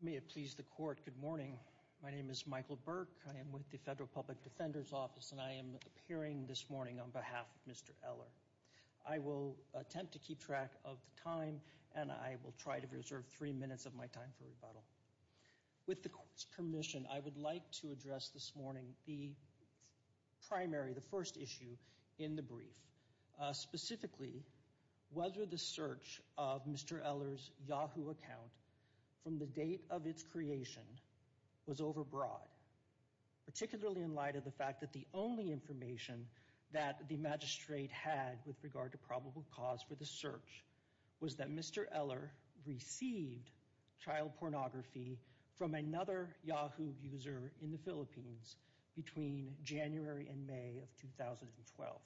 May it please the Court, good morning. My name is Michael Burke. I am with the Federal Public Defender's Office and I am appearing this morning on behalf of Mr. Eller. I will attempt to keep track of the time and I will try to reserve three minutes of my time for rebuttal. With the Court's permission, I would like to address this morning the primary, the first issue in the brief. Specifically, whether the search of Mr. Eller's Yahoo account from the date of its creation was overbroad. Particularly in light of the fact that the only information that the magistrate had with regard to probable cause for the search was that Mr. Eller received child pornography from another Yahoo user in the Philippines between January and May of 2012.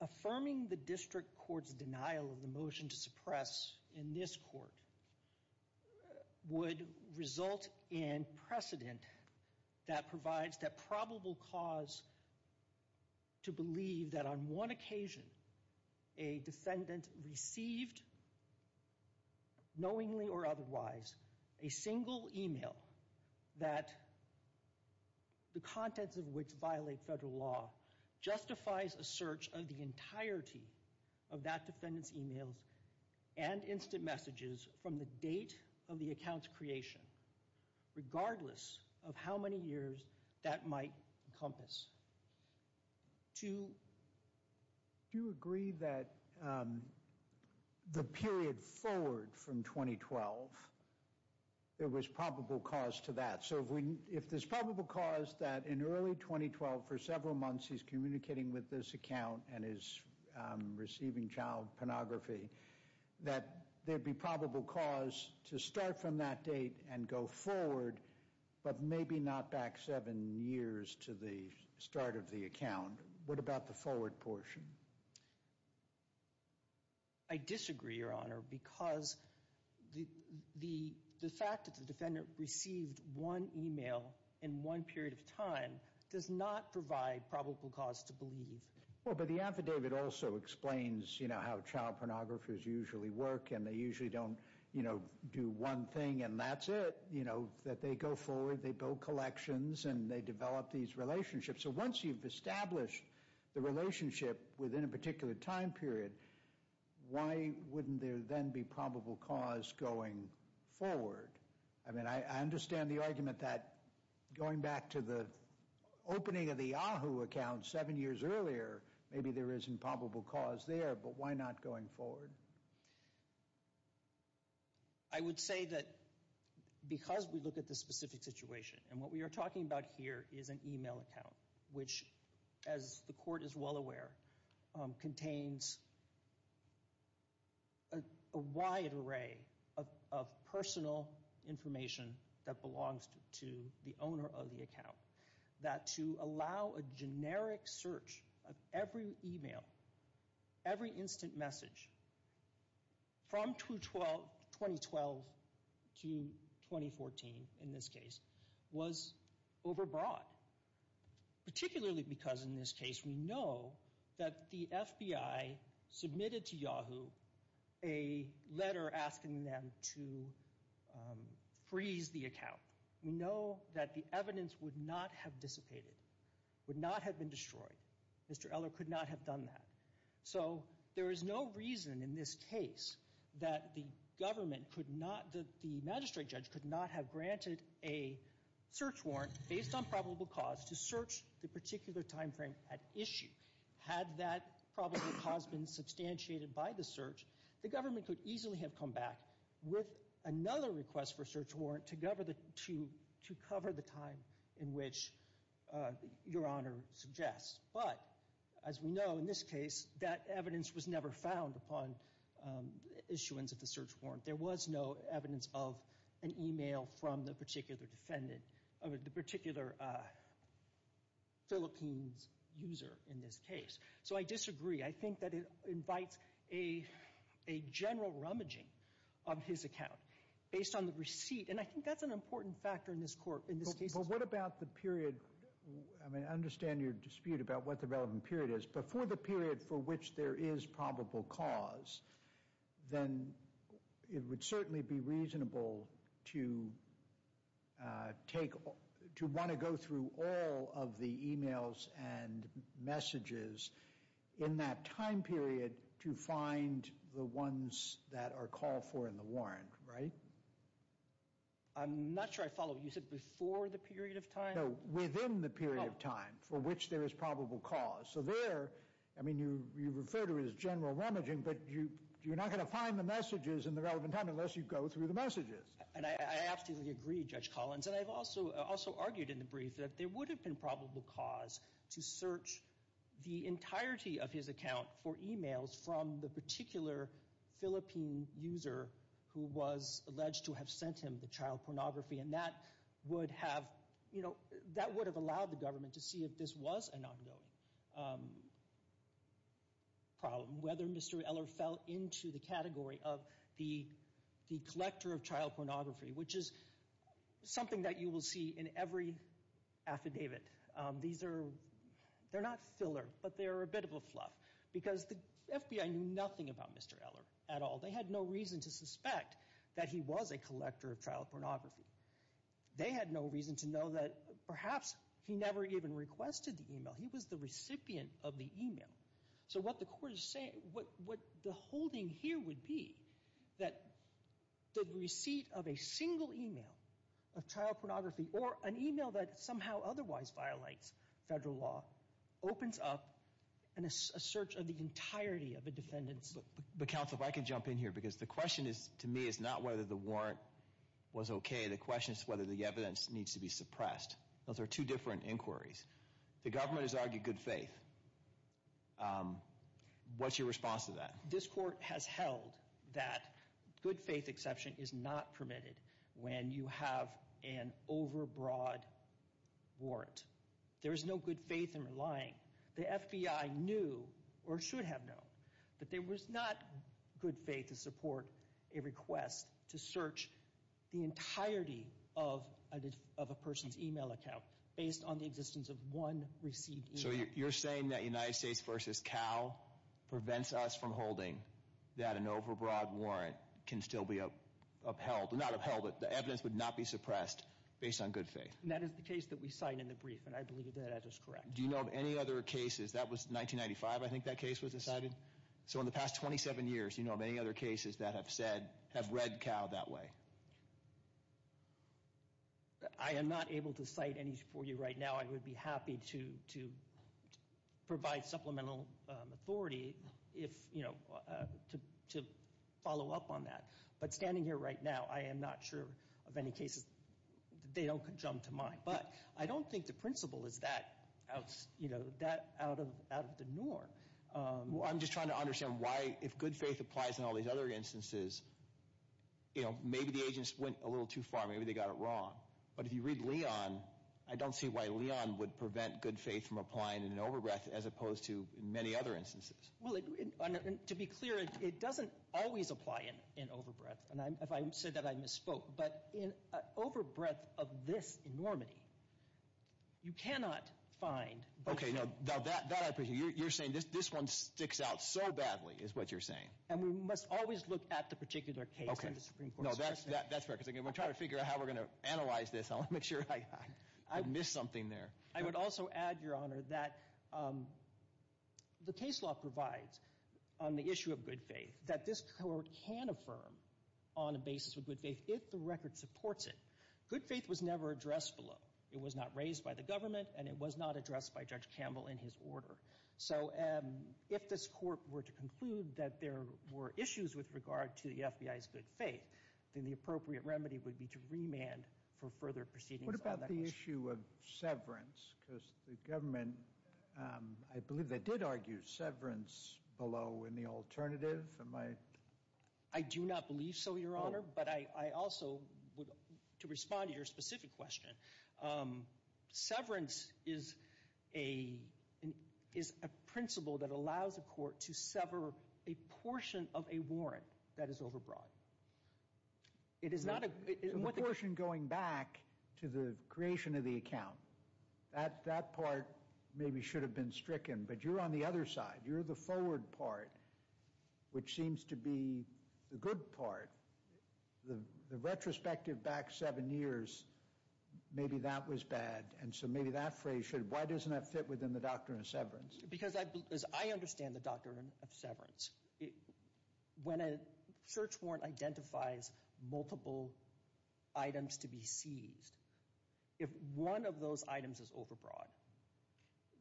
Affirming the District Court's denial of the motion to suppress in this Court would result in precedent that provides that probable cause to believe that on one occasion a defendant received, knowingly or otherwise, a single email that the contents of which violate federal law justifies a search of the entirety of that defendant's emails and instant messages from the date of the account's creation, regardless of how many years that might encompass. Do you agree that the period forward from 2012, there was probable cause to that? So if there's probable cause that in early 2012 for several months he's communicating with this account and is receiving child pornography, that there'd be probable cause to start from that date and go forward, but maybe not back seven years to the start of the account. What about the forward portion? I disagree, Your Honor, because the fact that the defendant received one email in one period of time does not provide probable cause to believe. Well, but the affidavit also explains, you know, how child pornographers usually work and they usually don't, you know, do one thing and that's it. You know, that they go forward, they build collections, and they develop these relationships. So once you've established the relationship within a particular time period, why wouldn't there then be probable cause going forward? I mean, I understand the argument that going back to the opening of the Yahoo account seven years earlier, maybe there isn't probable cause there, but why not going forward? I would say that because we look at the specific situation, and what we are talking about here is an email account, which, as the Court is well aware, contains a wide array of personal information that belongs to the owner of the account. That to allow a generic search of every email, every instant message from 2012 to 2014, in this case, was overbroad. Particularly because, in this case, we know that the FBI submitted to Yahoo a letter asking them to freeze the account. We know that the evidence would not have dissipated, would not have been destroyed. Mr. Eller could not have done that. So there is no reason in this case that the government could not, that the magistrate judge could not have granted a search warrant based on probable cause to search the particular time frame at issue. Had that probable cause been substantiated by the search, the government could easily have come back with another request for a search warrant to cover the time in which Your Honor suggests. But, as we know, in this case, that evidence was never found upon issuance of the search warrant. There was no evidence of an email from the particular defendant, the particular Philippines user in this case. So I disagree. I think that it invites a general rummaging of his account based on the receipt. And I think that's an important factor in this court, in this case. But what about the period, I mean, I understand your dispute about what the relevant period is, but for the period for which there is probable cause, then it would certainly be reasonable to take, to want to go through all of the emails and messages in that time period to find the ones that are called for in the warrant, right? I'm not sure I follow. You said before the period of time? No, within the period of time for which there is probable cause. So there, I mean, you refer to it as general rummaging, but you're not going to find the messages in the relevant time unless you go through the messages. And I absolutely agree, Judge Collins. And I've also argued in the brief that there would have been probable cause to search the entirety of his account for emails from the particular Philippine user who was alleged to have sent him the child pornography. And that would have, you know, that would have allowed the government to see if this was an ongoing problem, whether Mr. Eller fell into the category of the collector of child pornography, which is something that you will see in every affidavit. These are, they're not filler, but they're a bit of a fluff, because the FBI knew nothing about Mr. Eller at all. They had no reason to suspect that he was a collector of child pornography. They had no reason to know that perhaps he never even requested the email. He was the recipient of the email. So what the court is saying, what the holding here would be, that the receipt of a single email of child pornography or an email that somehow otherwise violates federal law opens up a search of the entirety of a defendant's account. But counsel, if I could jump in here, because the question to me is not whether the warrant was okay. The question is whether the evidence needs to be suppressed. Those are two different inquiries. The government has argued good faith. What's your response to that? This court has held that good faith exception is not permitted when you have an overbroad warrant. There is no good faith in relying. The FBI knew, or should have known, that there was not good faith to support a request to search the entirety of a person's email account based on the existence of one received email. So you're saying that United States v. Cal prevents us from holding that an overbroad warrant can still be upheld. Not upheld, but the evidence would not be suppressed based on good faith. That is the case that we cite in the brief, and I believe that that is correct. Do you know of any other cases, that was 1995 I think that case was decided. So in the past 27 years, do you know of any other cases that have read Cal that way? I am not able to cite any for you right now. I would be happy to provide supplemental authority to follow up on that. But standing here right now, I am not sure of any cases. They don't jump to mind. But I don't think the principle is that out of the norm. I am just trying to understand why, if good faith applies in all these other instances, maybe the agents went a little too far, maybe they got it wrong. But if you read Leon, I don't see why Leon would prevent good faith from applying in an overbreath as opposed to many other instances. To be clear, it doesn't always apply in an overbreath. If I said that, I misspoke. But in an overbreath of this enormity, you cannot find... Okay, now that I appreciate. You're saying this one sticks out so badly is what you're saying. And we must always look at the particular case in the Supreme Court. No, that's fair. Because I'm going to try to figure out how we're going to analyze this. I want to make sure I don't miss something there. I would also add, Your Honor, that the case law provides on the issue of good faith that this court can affirm on a basis of good faith if the record supports it. Good faith was never addressed below. It was not raised by the government, and it was not addressed by Judge Campbell in his order. So if this court were to conclude that there were issues with regard to the FBI's good faith, then the appropriate remedy would be to remand for further proceedings on that issue. What about the issue of severance? Because the government, I believe they did argue severance below in the alternative. I do not believe so, Your Honor. But I also would, to respond to your specific question, severance is a principle that allows a court to sever a portion of a warrant that is overbrought. It is not a— The portion going back to the creation of the account, that part maybe should have been stricken. But you're on the other side. You're the forward part, which seems to be the good part. The retrospective back seven years, maybe that was bad. And so maybe that phrase should—why doesn't that fit within the doctrine of severance? Because as I understand the doctrine of severance, when a search warrant identifies multiple items to be seized, if one of those items is overbought,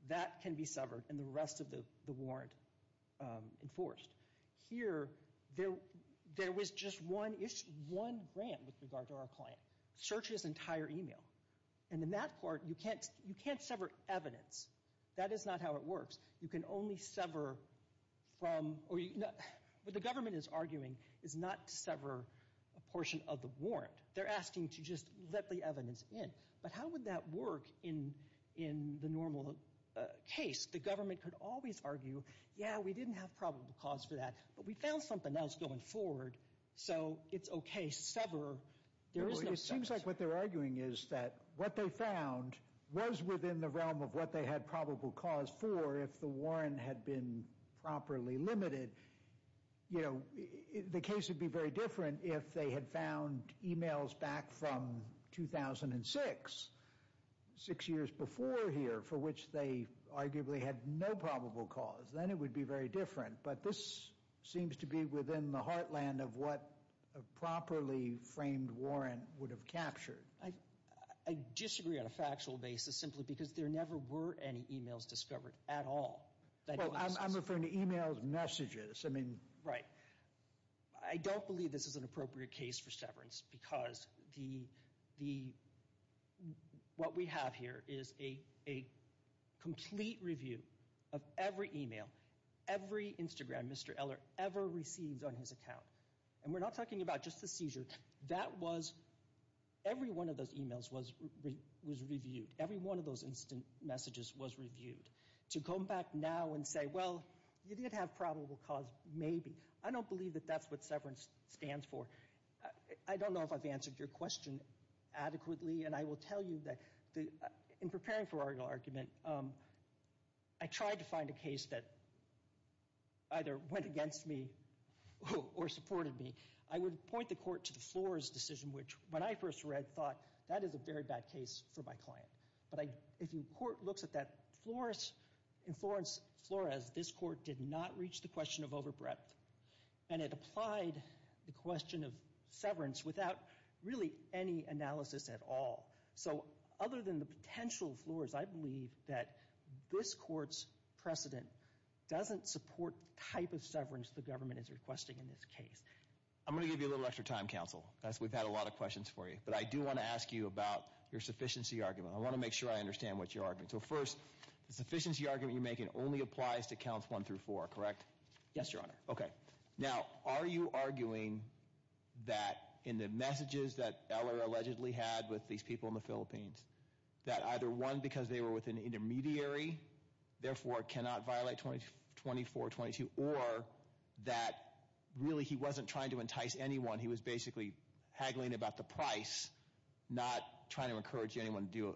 that can be severed and the rest of the warrant enforced. Here, there was just one grant with regard to our client. Search his entire email. And in that court, you can't sever evidence. That is not how it works. You can only sever from— What the government is arguing is not to sever a portion of the warrant. They're asking to just let the evidence in. But how would that work in the normal case? The government could always argue, yeah, we didn't have probable cause for that. But we found something else going forward. So it's okay. Sever. There is no— It seems like what they're arguing is that what they found was within the realm of what they had probable cause for if the warrant had been properly limited. You know, the case would be very different if they had found emails back from 2006, six years before here, for which they arguably had no probable cause. Then it would be very different. But this seems to be within the heartland of what a properly framed warrant would have captured. I disagree on a factual basis simply because there never were any emails discovered at all. Well, I'm referring to emails, messages. Right. I don't believe this is an appropriate case for severance because what we have here is a complete review of every email, every Instagram Mr. Eller ever received on his account. And we're not talking about just the seizure. That was—every one of those emails was reviewed. Every one of those instant messages was reviewed. To come back now and say, well, you did have probable cause, maybe. I don't believe that that's what severance stands for. I don't know if I've answered your question adequately, and I will tell you that in preparing for our argument, I tried to find a case that either went against me or supported me. I would point the court to the Flores decision, which when I first read, thought, that is a very bad case for my client. But if the court looks at that, in Florence, Flores, this court did not reach the question of overbreadth, and it applied the question of severance without really any analysis at all. So other than the potential Flores, I believe that this court's precedent doesn't support the type of severance the government is requesting in this case. I'm going to give you a little extra time, counsel, because we've had a lot of questions for you. But I do want to ask you about your sufficiency argument. I want to make sure I understand what you're arguing. So first, the sufficiency argument you're making only applies to counts one through four, correct? Yes, Your Honor. Okay. Now, are you arguing that in the messages that Eller allegedly had with these people in the Philippines, that either one, because they were with an intermediary, therefore cannot violate 2422, or that really he wasn't trying to entice anyone, he was basically haggling about the price, not trying to encourage anyone to do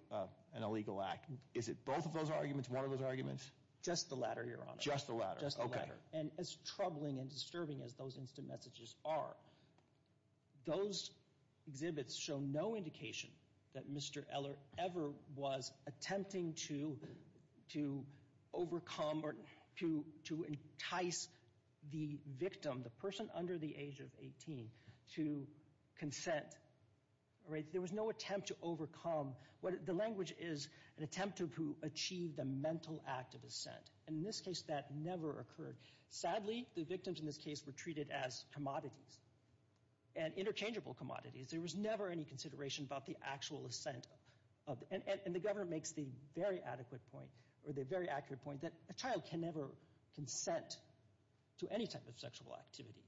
an illegal act? Is it both of those arguments, one of those arguments? Just the latter, Your Honor. Just the latter. Just the latter. And as troubling and disturbing as those instant messages are, those exhibits show no indication that Mr. Eller ever was attempting to overcome or to entice the victim, the person under the age of 18, to consent. There was no attempt to overcome. The language is an attempt to achieve the mental act of assent. And in this case, that never occurred. Sadly, the victims in this case were treated as commodities, and interchangeable commodities. There was never any consideration about the actual assent. And the Governor makes the very adequate point, or the very accurate point, that a child can never consent to any type of sexual activity.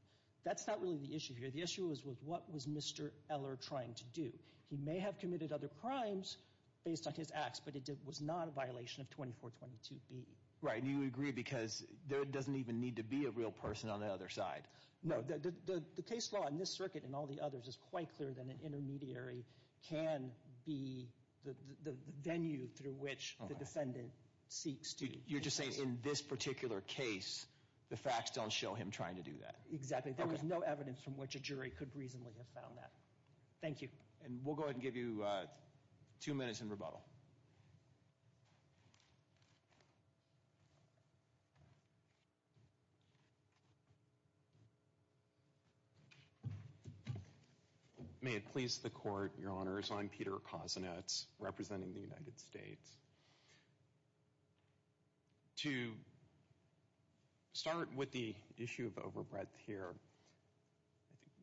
That's not really the issue here. The issue was what was Mr. Eller trying to do. He may have committed other crimes based on his acts, but it was not a violation of 2422B. Right, and you agree because there doesn't even need to be a real person on the other side. No, the case law in this circuit and all the others is quite clear that an intermediary can be the venue through which the defendant seeks to consent. You're just saying in this particular case, the facts don't show him trying to do that. Exactly. There was no evidence from which a jury could reasonably have found that. Thank you. And we'll go ahead and give you two minutes in rebuttal. May it please the Court, Your Honors, I'm Peter Kosinetz, representing the United States. To start with the issue of overbreadth here,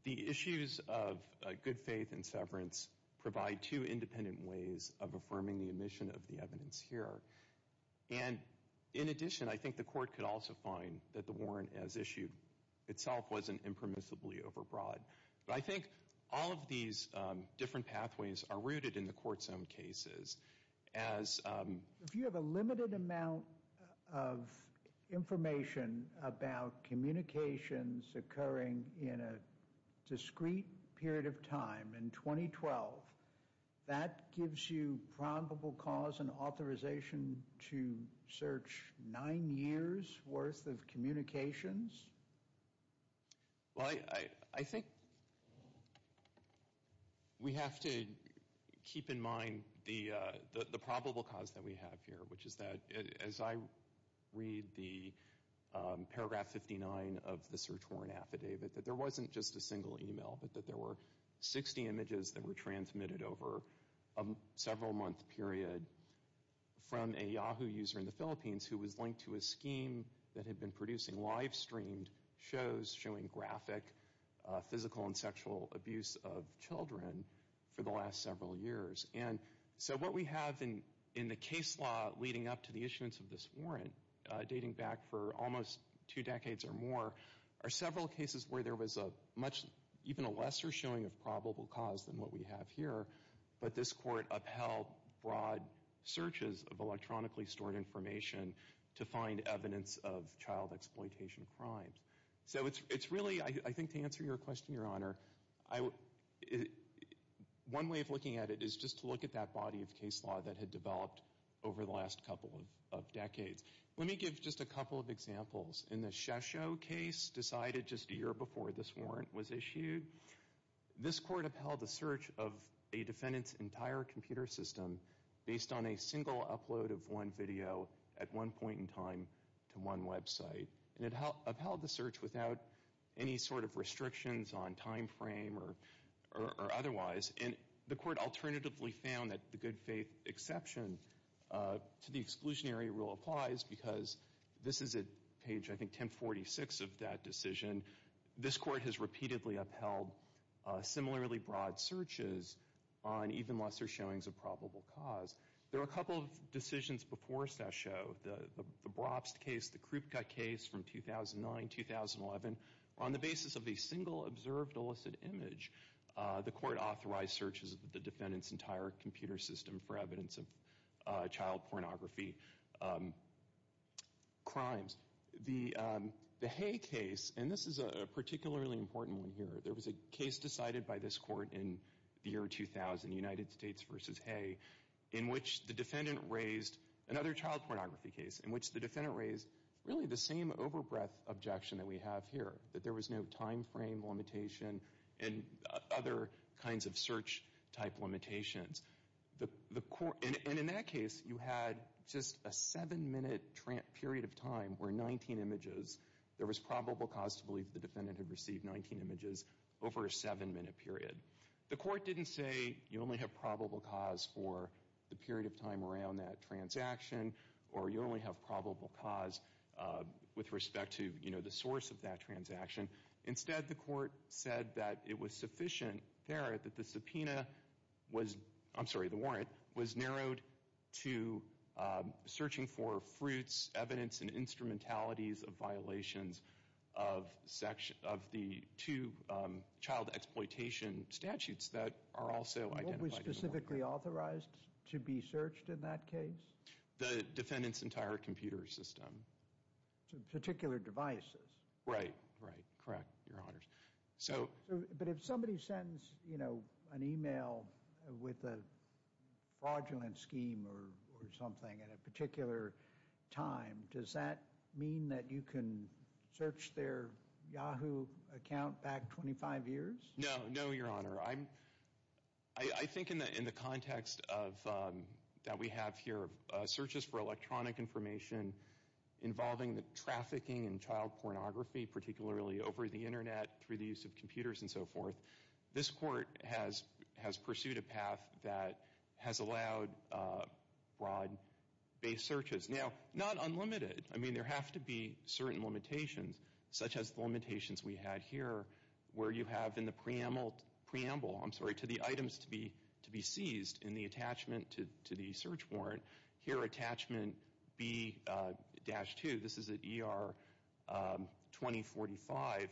the issues of good faith and severance provide two independent ways of affirming the omission of the evidence here. And in addition, I think the Court could also find that the warrant as issued itself wasn't impermissibly overbroad. But I think all of these different pathways are rooted in the Court's own cases. If you have a limited amount of information about communications occurring in a discrete period of time, in 2012, that gives you probable cause and authorization to search nine years' worth of communications? Well, I think we have to keep in mind the probable cause that we have here, which is that, as I read the paragraph 59 of the search warrant affidavit, that there wasn't just a single email, but that there were 60 images that were transmitted over a several-month period from a Yahoo user in the Philippines who was linked to a scheme that had been producing live-streamed shows showing graphic physical and sexual abuse of children for the last several years. And so what we have in the case law leading up to the issuance of this warrant, dating back for almost two decades or more, are several cases where there was even a lesser showing of probable cause than what we have here, but this Court upheld broad searches of electronically stored information to find evidence of child exploitation crimes. So it's really, I think to answer your question, Your Honor, one way of looking at it is just to look at that body of case law that had developed over the last couple of decades. Let me give just a couple of examples. In the Shesho case decided just a year before this warrant was issued, this Court upheld the search of a defendant's entire computer system based on a single upload of one video at one point in time to one website. And it upheld the search without any sort of restrictions on time frame or otherwise. And the Court alternatively found that the good faith exception to the exclusionary rule applies because this is at page, I think, 1046 of that decision. This Court has repeatedly upheld similarly broad searches on even lesser showings of probable cause. There were a couple of decisions before Shesho. The Brobst case, the Krupke case from 2009-2011, on the basis of a single observed illicit image, the Court authorized searches of the defendant's entire computer system for evidence of child pornography crimes. The Hay case, and this is a particularly important one here, there was a case decided by this Court in the year 2000, United States v. Hay, in which the defendant raised another child pornography case in which the defendant raised really the same overbreath objection that we have here, that there was no time frame limitation and other kinds of search-type limitations. And in that case, you had just a seven-minute period of time where 19 images, there was probable cause to believe the defendant had received 19 images over a seven-minute period. The Court didn't say you only have probable cause for the period of time around that transaction or you only have probable cause with respect to the source of that transaction. Instead, the Court said that it was sufficient there that the subpoena was, I'm sorry, the warrant was narrowed to searching for fruits, evidence, and instrumentalities of violations of the two child exploitation statutes that are also identified in the warrant. What was specifically authorized to be searched in that case? The defendant's entire computer system. Particular devices. Right, right, correct, Your Honors. But if somebody sends, you know, an email with a fraudulent scheme or something at a particular time, does that mean that you can search their Yahoo account back 25 years? No, no, Your Honor. I think in the context that we have here, searches for electronic information involving the trafficking and child pornography, particularly over the Internet, through the use of computers and so forth, this Court has pursued a path that has allowed broad-based searches. Now, not unlimited. I mean, there have to be certain limitations, such as the limitations we had here where you have in the preamble, I'm sorry, to the items to be seized in the attachment to the search warrant. Here, attachment B-2. This is at ER 2045.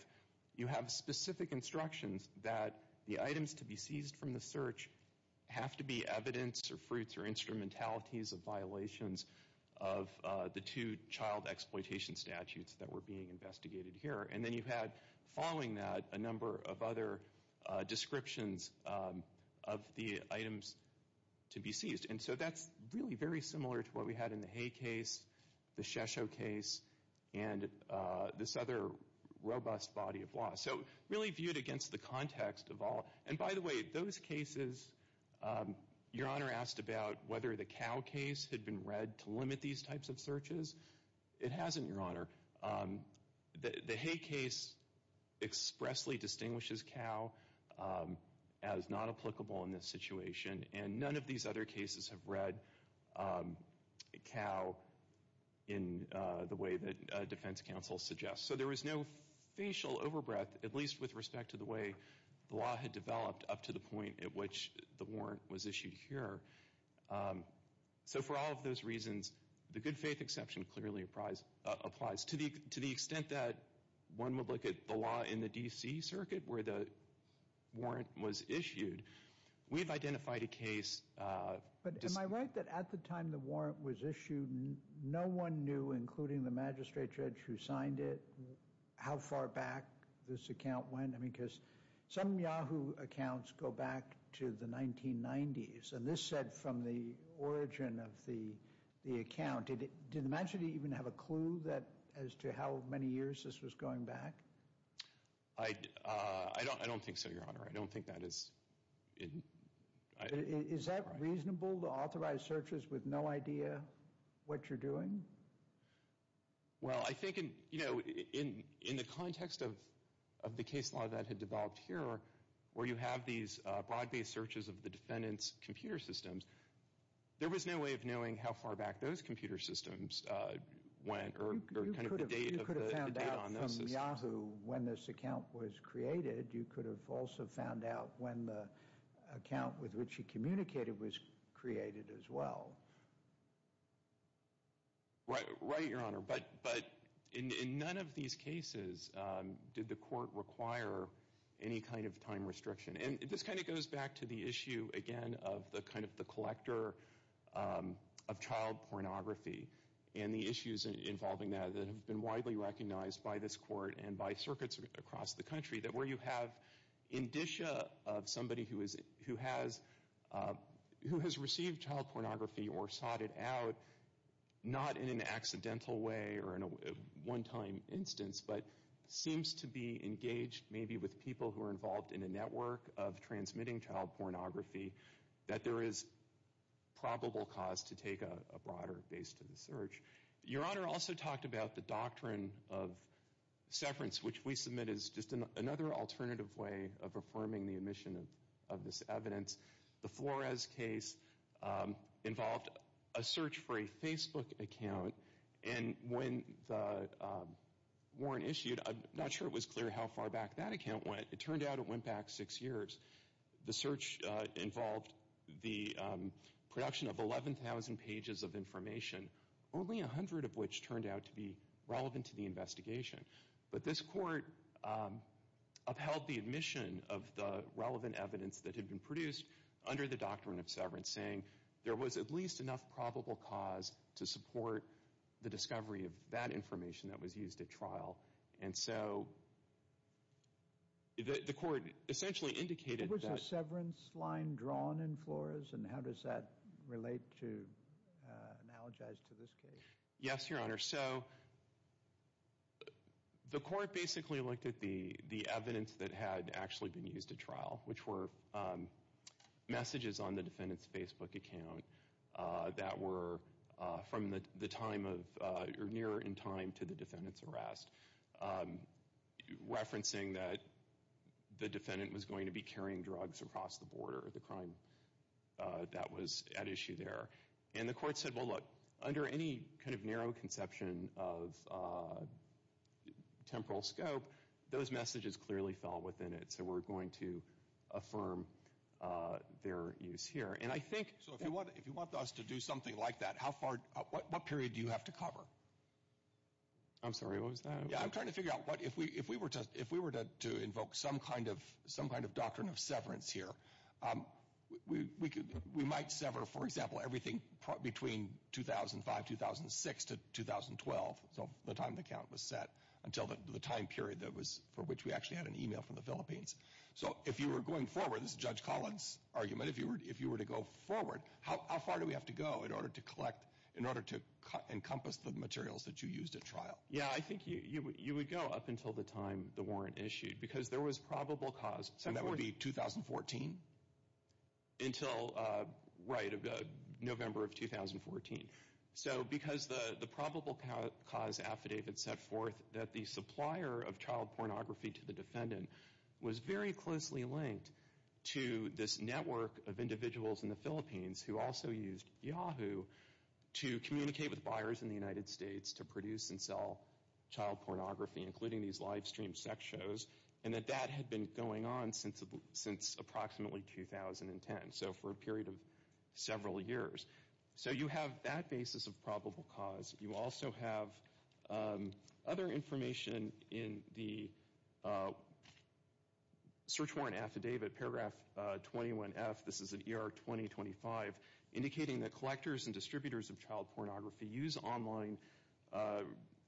You have specific instructions that the items to be seized from the search have to be evidence or fruits or instrumentalities of violations of the two child exploitation statutes that were being investigated here. And then you had, following that, a number of other descriptions of the items to be seized. And so that's really very similar to what we had in the Hay case, the Shesho case, and this other robust body of law. So really viewed against the context of all. And by the way, those cases, Your Honor asked about whether the Cow case had been read to limit these types of searches. It hasn't, Your Honor. The Hay case expressly distinguishes Cow as not applicable in this situation, and none of these other cases have read Cow in the way that defense counsel suggests. So there was no facial overbreath, at least with respect to the way the law had developed up to the point at which the warrant was issued here. So for all of those reasons, the good faith exception clearly applies. To the extent that one would look at the law in the D.C. Circuit where the warrant was issued, we've identified a case. But am I right that at the time the warrant was issued, no one knew, including the magistrate judge who signed it, how far back this account went? I mean, because some Yahoo accounts go back to the 1990s, and this said from the origin of the account. Did the magistrate even have a clue as to how many years this was going back? I don't think so, Your Honor. I don't think that is— Is that reasonable to authorize searches with no idea what you're doing? Well, I think in the context of the case law that had developed here where you have these broad-based searches of the defendant's computer systems, there was no way of knowing how far back those computer systems went You could have found out from Yahoo when this account was created. You could have also found out when the account with which he communicated was created as well. Right, Your Honor. But in none of these cases did the court require any kind of time restriction. And this kind of goes back to the issue, again, of the collector of child pornography and the issues involving that that have been widely recognized by this court and by circuits across the country. That where you have indicia of somebody who has received child pornography or sought it out, not in an accidental way or in a one-time instance, but seems to be engaged maybe with people who are involved in a network of transmitting child pornography, that there is probable cause to take a broader base to the search. Your Honor also talked about the doctrine of severance, which we submit as just another alternative way of affirming the omission of this evidence. The Flores case involved a search for a Facebook account. And when the warrant issued, I'm not sure it was clear how far back that account went. It turned out it went back six years. The search involved the production of 11,000 pages of information, only 100 of which turned out to be relevant to the investigation. But this court upheld the omission of the relevant evidence that had been produced under the doctrine of severance, saying there was at least enough probable cause to support the discovery of that information that was used at trial. And so the court essentially indicated that... Was a severance line drawn in Flores? And how does that relate to, analogize to this case? Yes, Your Honor. So the court basically looked at the evidence that had actually been used at trial, which were messages on the defendant's Facebook account that were from the time of, or nearer in time to the defendant's arrest, referencing that the defendant was going to be carrying drugs across the border, the crime that was at issue there. And the court said, well, look, under any kind of narrow conception of temporal scope, those messages clearly fell within it, so we're going to affirm their use here. And I think... What period do you have to cover? I'm sorry, what was that? Yeah, I'm trying to figure out if we were to invoke some kind of doctrine of severance here, we might sever, for example, everything between 2005, 2006 to 2012, so the time the count was set, until the time period for which we actually had an email from the Philippines. But if you were to go forward, how far do we have to go in order to collect, in order to encompass the materials that you used at trial? Yeah, I think you would go up until the time the warrant issued, because there was probable cause. And that would be 2014? Until, right, November of 2014. So because the probable cause affidavit set forth that the supplier of child pornography to the defendant was very closely linked to this network of individuals in the Philippines who also used Yahoo to communicate with buyers in the United States to produce and sell child pornography, including these live stream sex shows, and that that had been going on since approximately 2010, so for a period of several years. So you have that basis of probable cause. You also have other information in the search warrant affidavit, paragraph 21F, this is in ER 2025, indicating that collectors and distributors of child pornography use online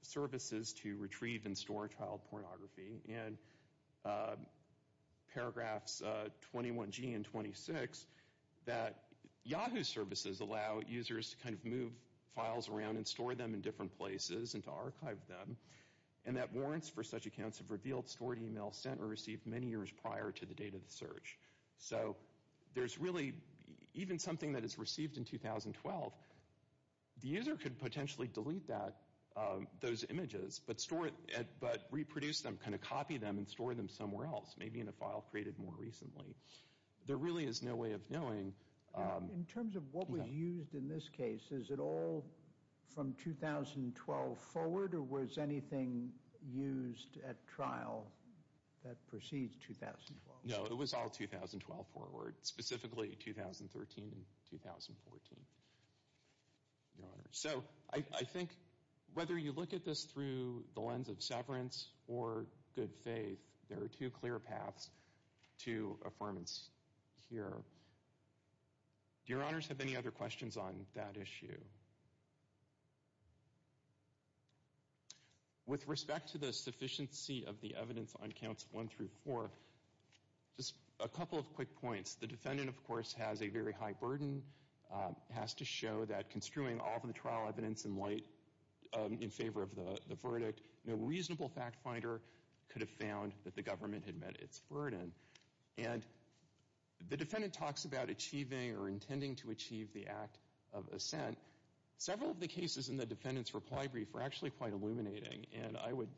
services to retrieve and store child pornography. And paragraphs 21G and 26, that Yahoo services allow users to kind of move files around and store them in different places and to archive them, and that warrants for such accounts have revealed, stored, emailed, sent, or received many years prior to the date of the search. So there's really, even something that is received in 2012, the user could potentially delete that, those images, but store it, but reproduce them, kind of copy them and store them somewhere else, maybe in a file created more recently. There really is no way of knowing. In terms of what was used in this case, is it all from 2012 forward, or was anything used at trial that precedes 2012? No, it was all 2012 forward, specifically 2013 and 2014, Your Honor. So I think whether you look at this through the lens of severance or good faith, there are two clear paths to affirmance here. Do Your Honors have any other questions on that issue? With respect to the sufficiency of the evidence on counts one through four, just a couple of quick points. The defendant, of course, has a very high burden, has to show that construing all of the trial evidence in light in favor of the verdict, no reasonable fact finder could have found that the government had met its burden. And the defendant talks about achieving or intending to achieve the act of assent. Several of the cases in the defendant's reply brief were actually quite illuminating, and I would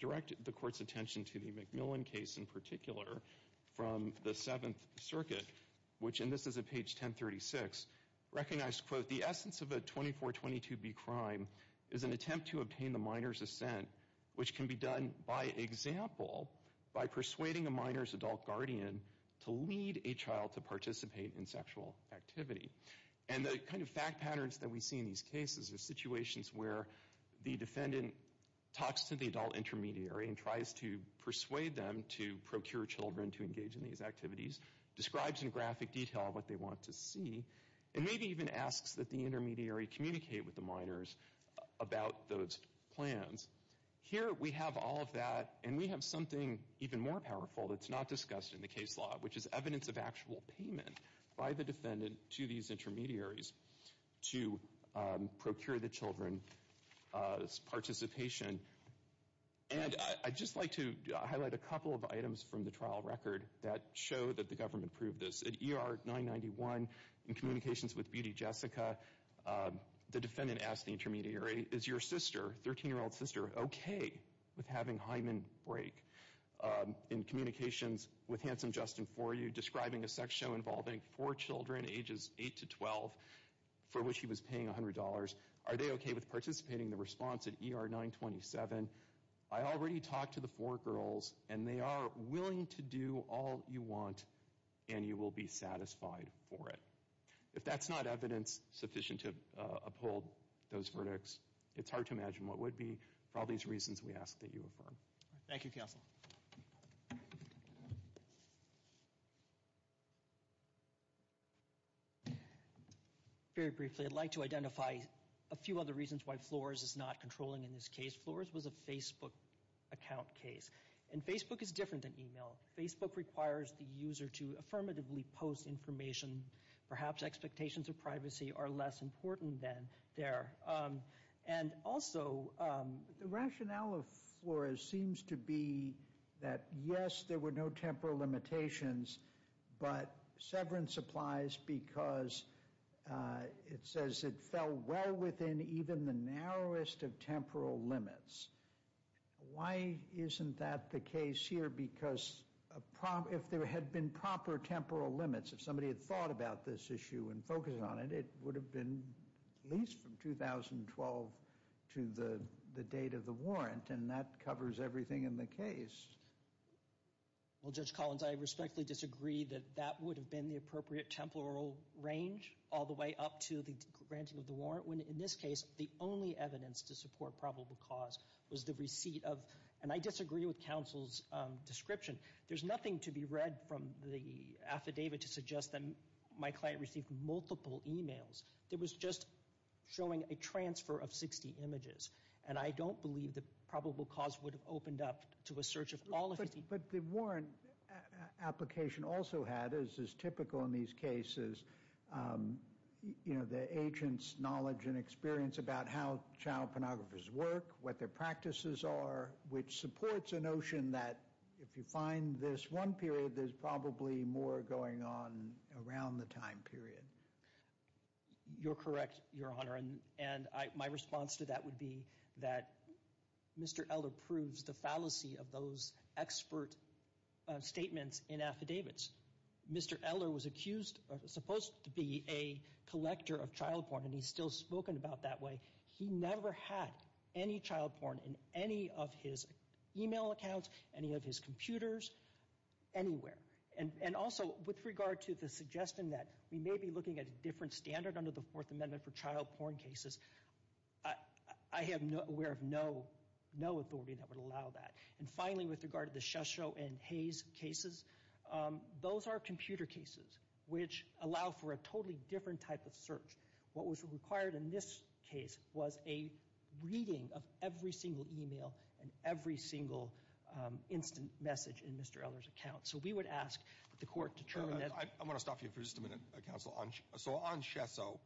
direct the Court's attention to the McMillan case in particular from the Seventh Circuit, which, and this is at page 1036, recognized, quote, that the essence of a 2422B crime is an attempt to obtain the minor's assent, which can be done, by example, by persuading a minor's adult guardian to lead a child to participate in sexual activity. And the kind of fact patterns that we see in these cases are situations where the defendant talks to the adult intermediary and tries to persuade them to procure children to engage in these activities, describes in graphic detail what they want to see, and maybe even asks that the intermediary communicate with the minors about those plans. Here we have all of that, and we have something even more powerful that's not discussed in the case law, which is evidence of actual payment by the defendant to these intermediaries to procure the children's participation. And I'd just like to highlight a couple of items from the trial record that show that the government proved this. At ER 991, in communications with Beauty Jessica, the defendant asked the intermediary, is your sister, 13-year-old sister, okay with having Hyman break? In communications with Handsome Justin Foryou, describing a sex show involving four children, ages 8 to 12, for which he was paying $100, are they okay with participating in the response at ER 927? I already talked to the four girls, and they are willing to do all you want, and you will be satisfied for it. If that's not evidence sufficient to uphold those verdicts, it's hard to imagine what would be for all these reasons we ask that you affirm. Thank you, counsel. Very briefly, I'd like to identify a few other reasons why Flores is not controlling in this case. Flores was a Facebook account case. And Facebook is different than email. Facebook requires the user to affirmatively post information. Perhaps expectations of privacy are less important than there. And also— The rationale of Flores seems to be that, yes, there were no temporal limitations, but severance applies because it says it fell well within even the narrowest of temporal limits. Why isn't that the case here? Because if there had been proper temporal limits, if somebody had thought about this issue and focused on it, it would have been at least from 2012 to the date of the warrant, and that covers everything in the case. Well, Judge Collins, I respectfully disagree that that would have been the appropriate temporal range all the way up to the granting of the warrant, when in this case the only evidence to support probable cause was the receipt of— and I disagree with counsel's description. There's nothing to be read from the affidavit to suggest that my client received multiple emails. It was just showing a transfer of 60 images. And I don't believe that probable cause would have opened up to a search of all of 60— But the warrant application also had, as is typical in these cases, you know, the agent's knowledge and experience about how child pornographers work, what their practices are, which supports a notion that if you find this one period, there's probably more going on around the time period. You're correct, Your Honor, and my response to that would be that Mr. Eller proves the fallacy of those expert statements in affidavits. Mr. Eller was accused—supposed to be a collector of child porn, and he's still spoken about that way. He never had any child porn in any of his email accounts, any of his computers, anywhere. And also, with regard to the suggestion that we may be looking at a different standard under the Fourth Amendment for child porn cases, I am aware of no authority that would allow that. And finally, with regard to the Shesso and Hayes cases, those are computer cases which allow for a totally different type of search. What was required in this case was a reading of every single email and every single instant message in Mr. Eller's account. So we would ask that the Court determine that— I want to stop you for just a minute, Counsel. So on Shesso,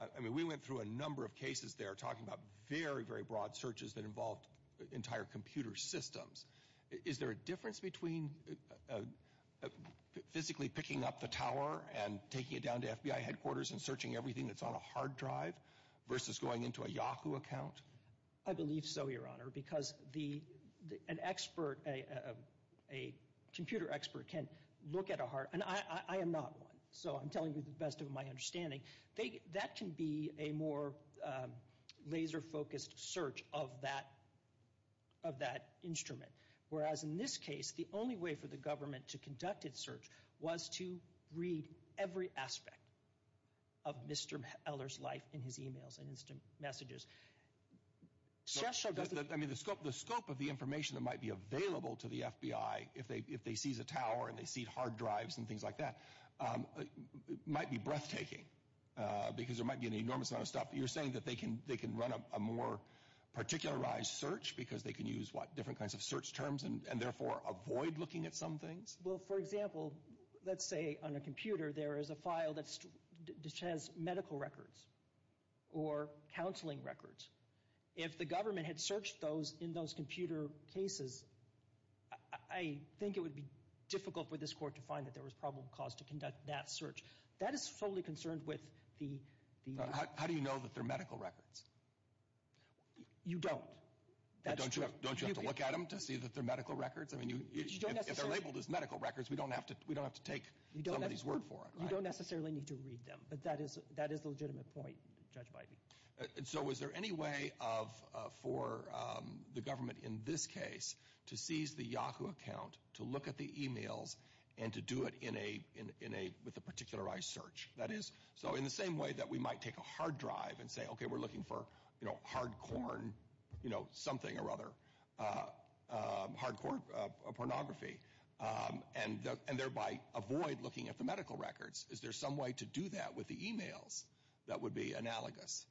I mean, we went through a number of cases there talking about very, very broad searches that involved entire computer systems. Is there a difference between physically picking up the tower and taking it down to FBI headquarters and searching everything that's on a hard drive versus going into a Yahoo account? I believe so, Your Honor, because an expert, a computer expert, can look at a hard— and I am not one, so I'm telling you the best of my understanding. That can be a more laser-focused search of that instrument. Whereas in this case, the only way for the government to conduct its search was to read every aspect of Mr. Eller's life in his emails and instant messages. Shesso doesn't— I mean, the scope of the information that might be available to the FBI if they seize a tower and they seize hard drives and things like that might be breathtaking because there might be an enormous amount of stuff. You're saying that they can run a more particularized search because they can use, what, different kinds of search terms and therefore avoid looking at some things? Well, for example, let's say on a computer there is a file that has medical records or counseling records. If the government had searched those in those computer cases, I think it would be difficult for this Court to find that there was problem caused to conduct that search. That is solely concerned with the— How do you know that they're medical records? You don't. Don't you have to look at them to see that they're medical records? I mean, if they're labeled as medical records, we don't have to take some of these word for it, right? You don't necessarily need to read them, but that is the legitimate point judged by me. So is there any way for the government in this case to seize the Yahoo account, to look at the e-mails, and to do it with a particularized search? That is, so in the same way that we might take a hard drive and say, okay, we're looking for, you know, hardcore, you know, something or other, hardcore pornography, and thereby avoid looking at the medical records, is there some way to do that with the e-mails that would be analogous?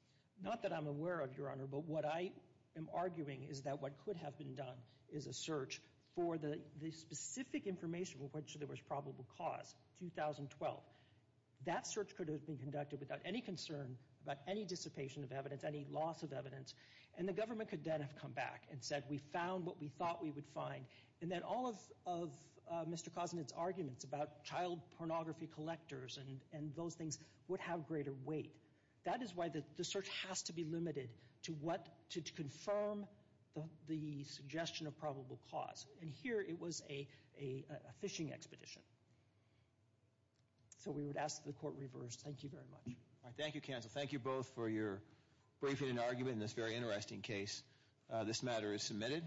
Not that I'm aware of, Your Honor, but what I am arguing is that what could have been done is a search for the specific information of which there was probable cause, 2012. That search could have been conducted without any concern about any dissipation of evidence, any loss of evidence, and the government could then have come back and said, we found what we thought we would find, and then all of Mr. Kosnitz's arguments about child pornography collectors and those things would have greater weight. That is why the search has to be limited to what, to confirm the suggestion of probable cause. And here it was a fishing expedition. So we would ask that the court reverse. Thank you very much. All right, thank you, counsel. Thank you both for your briefing and argument in this very interesting case. This matter is submitted.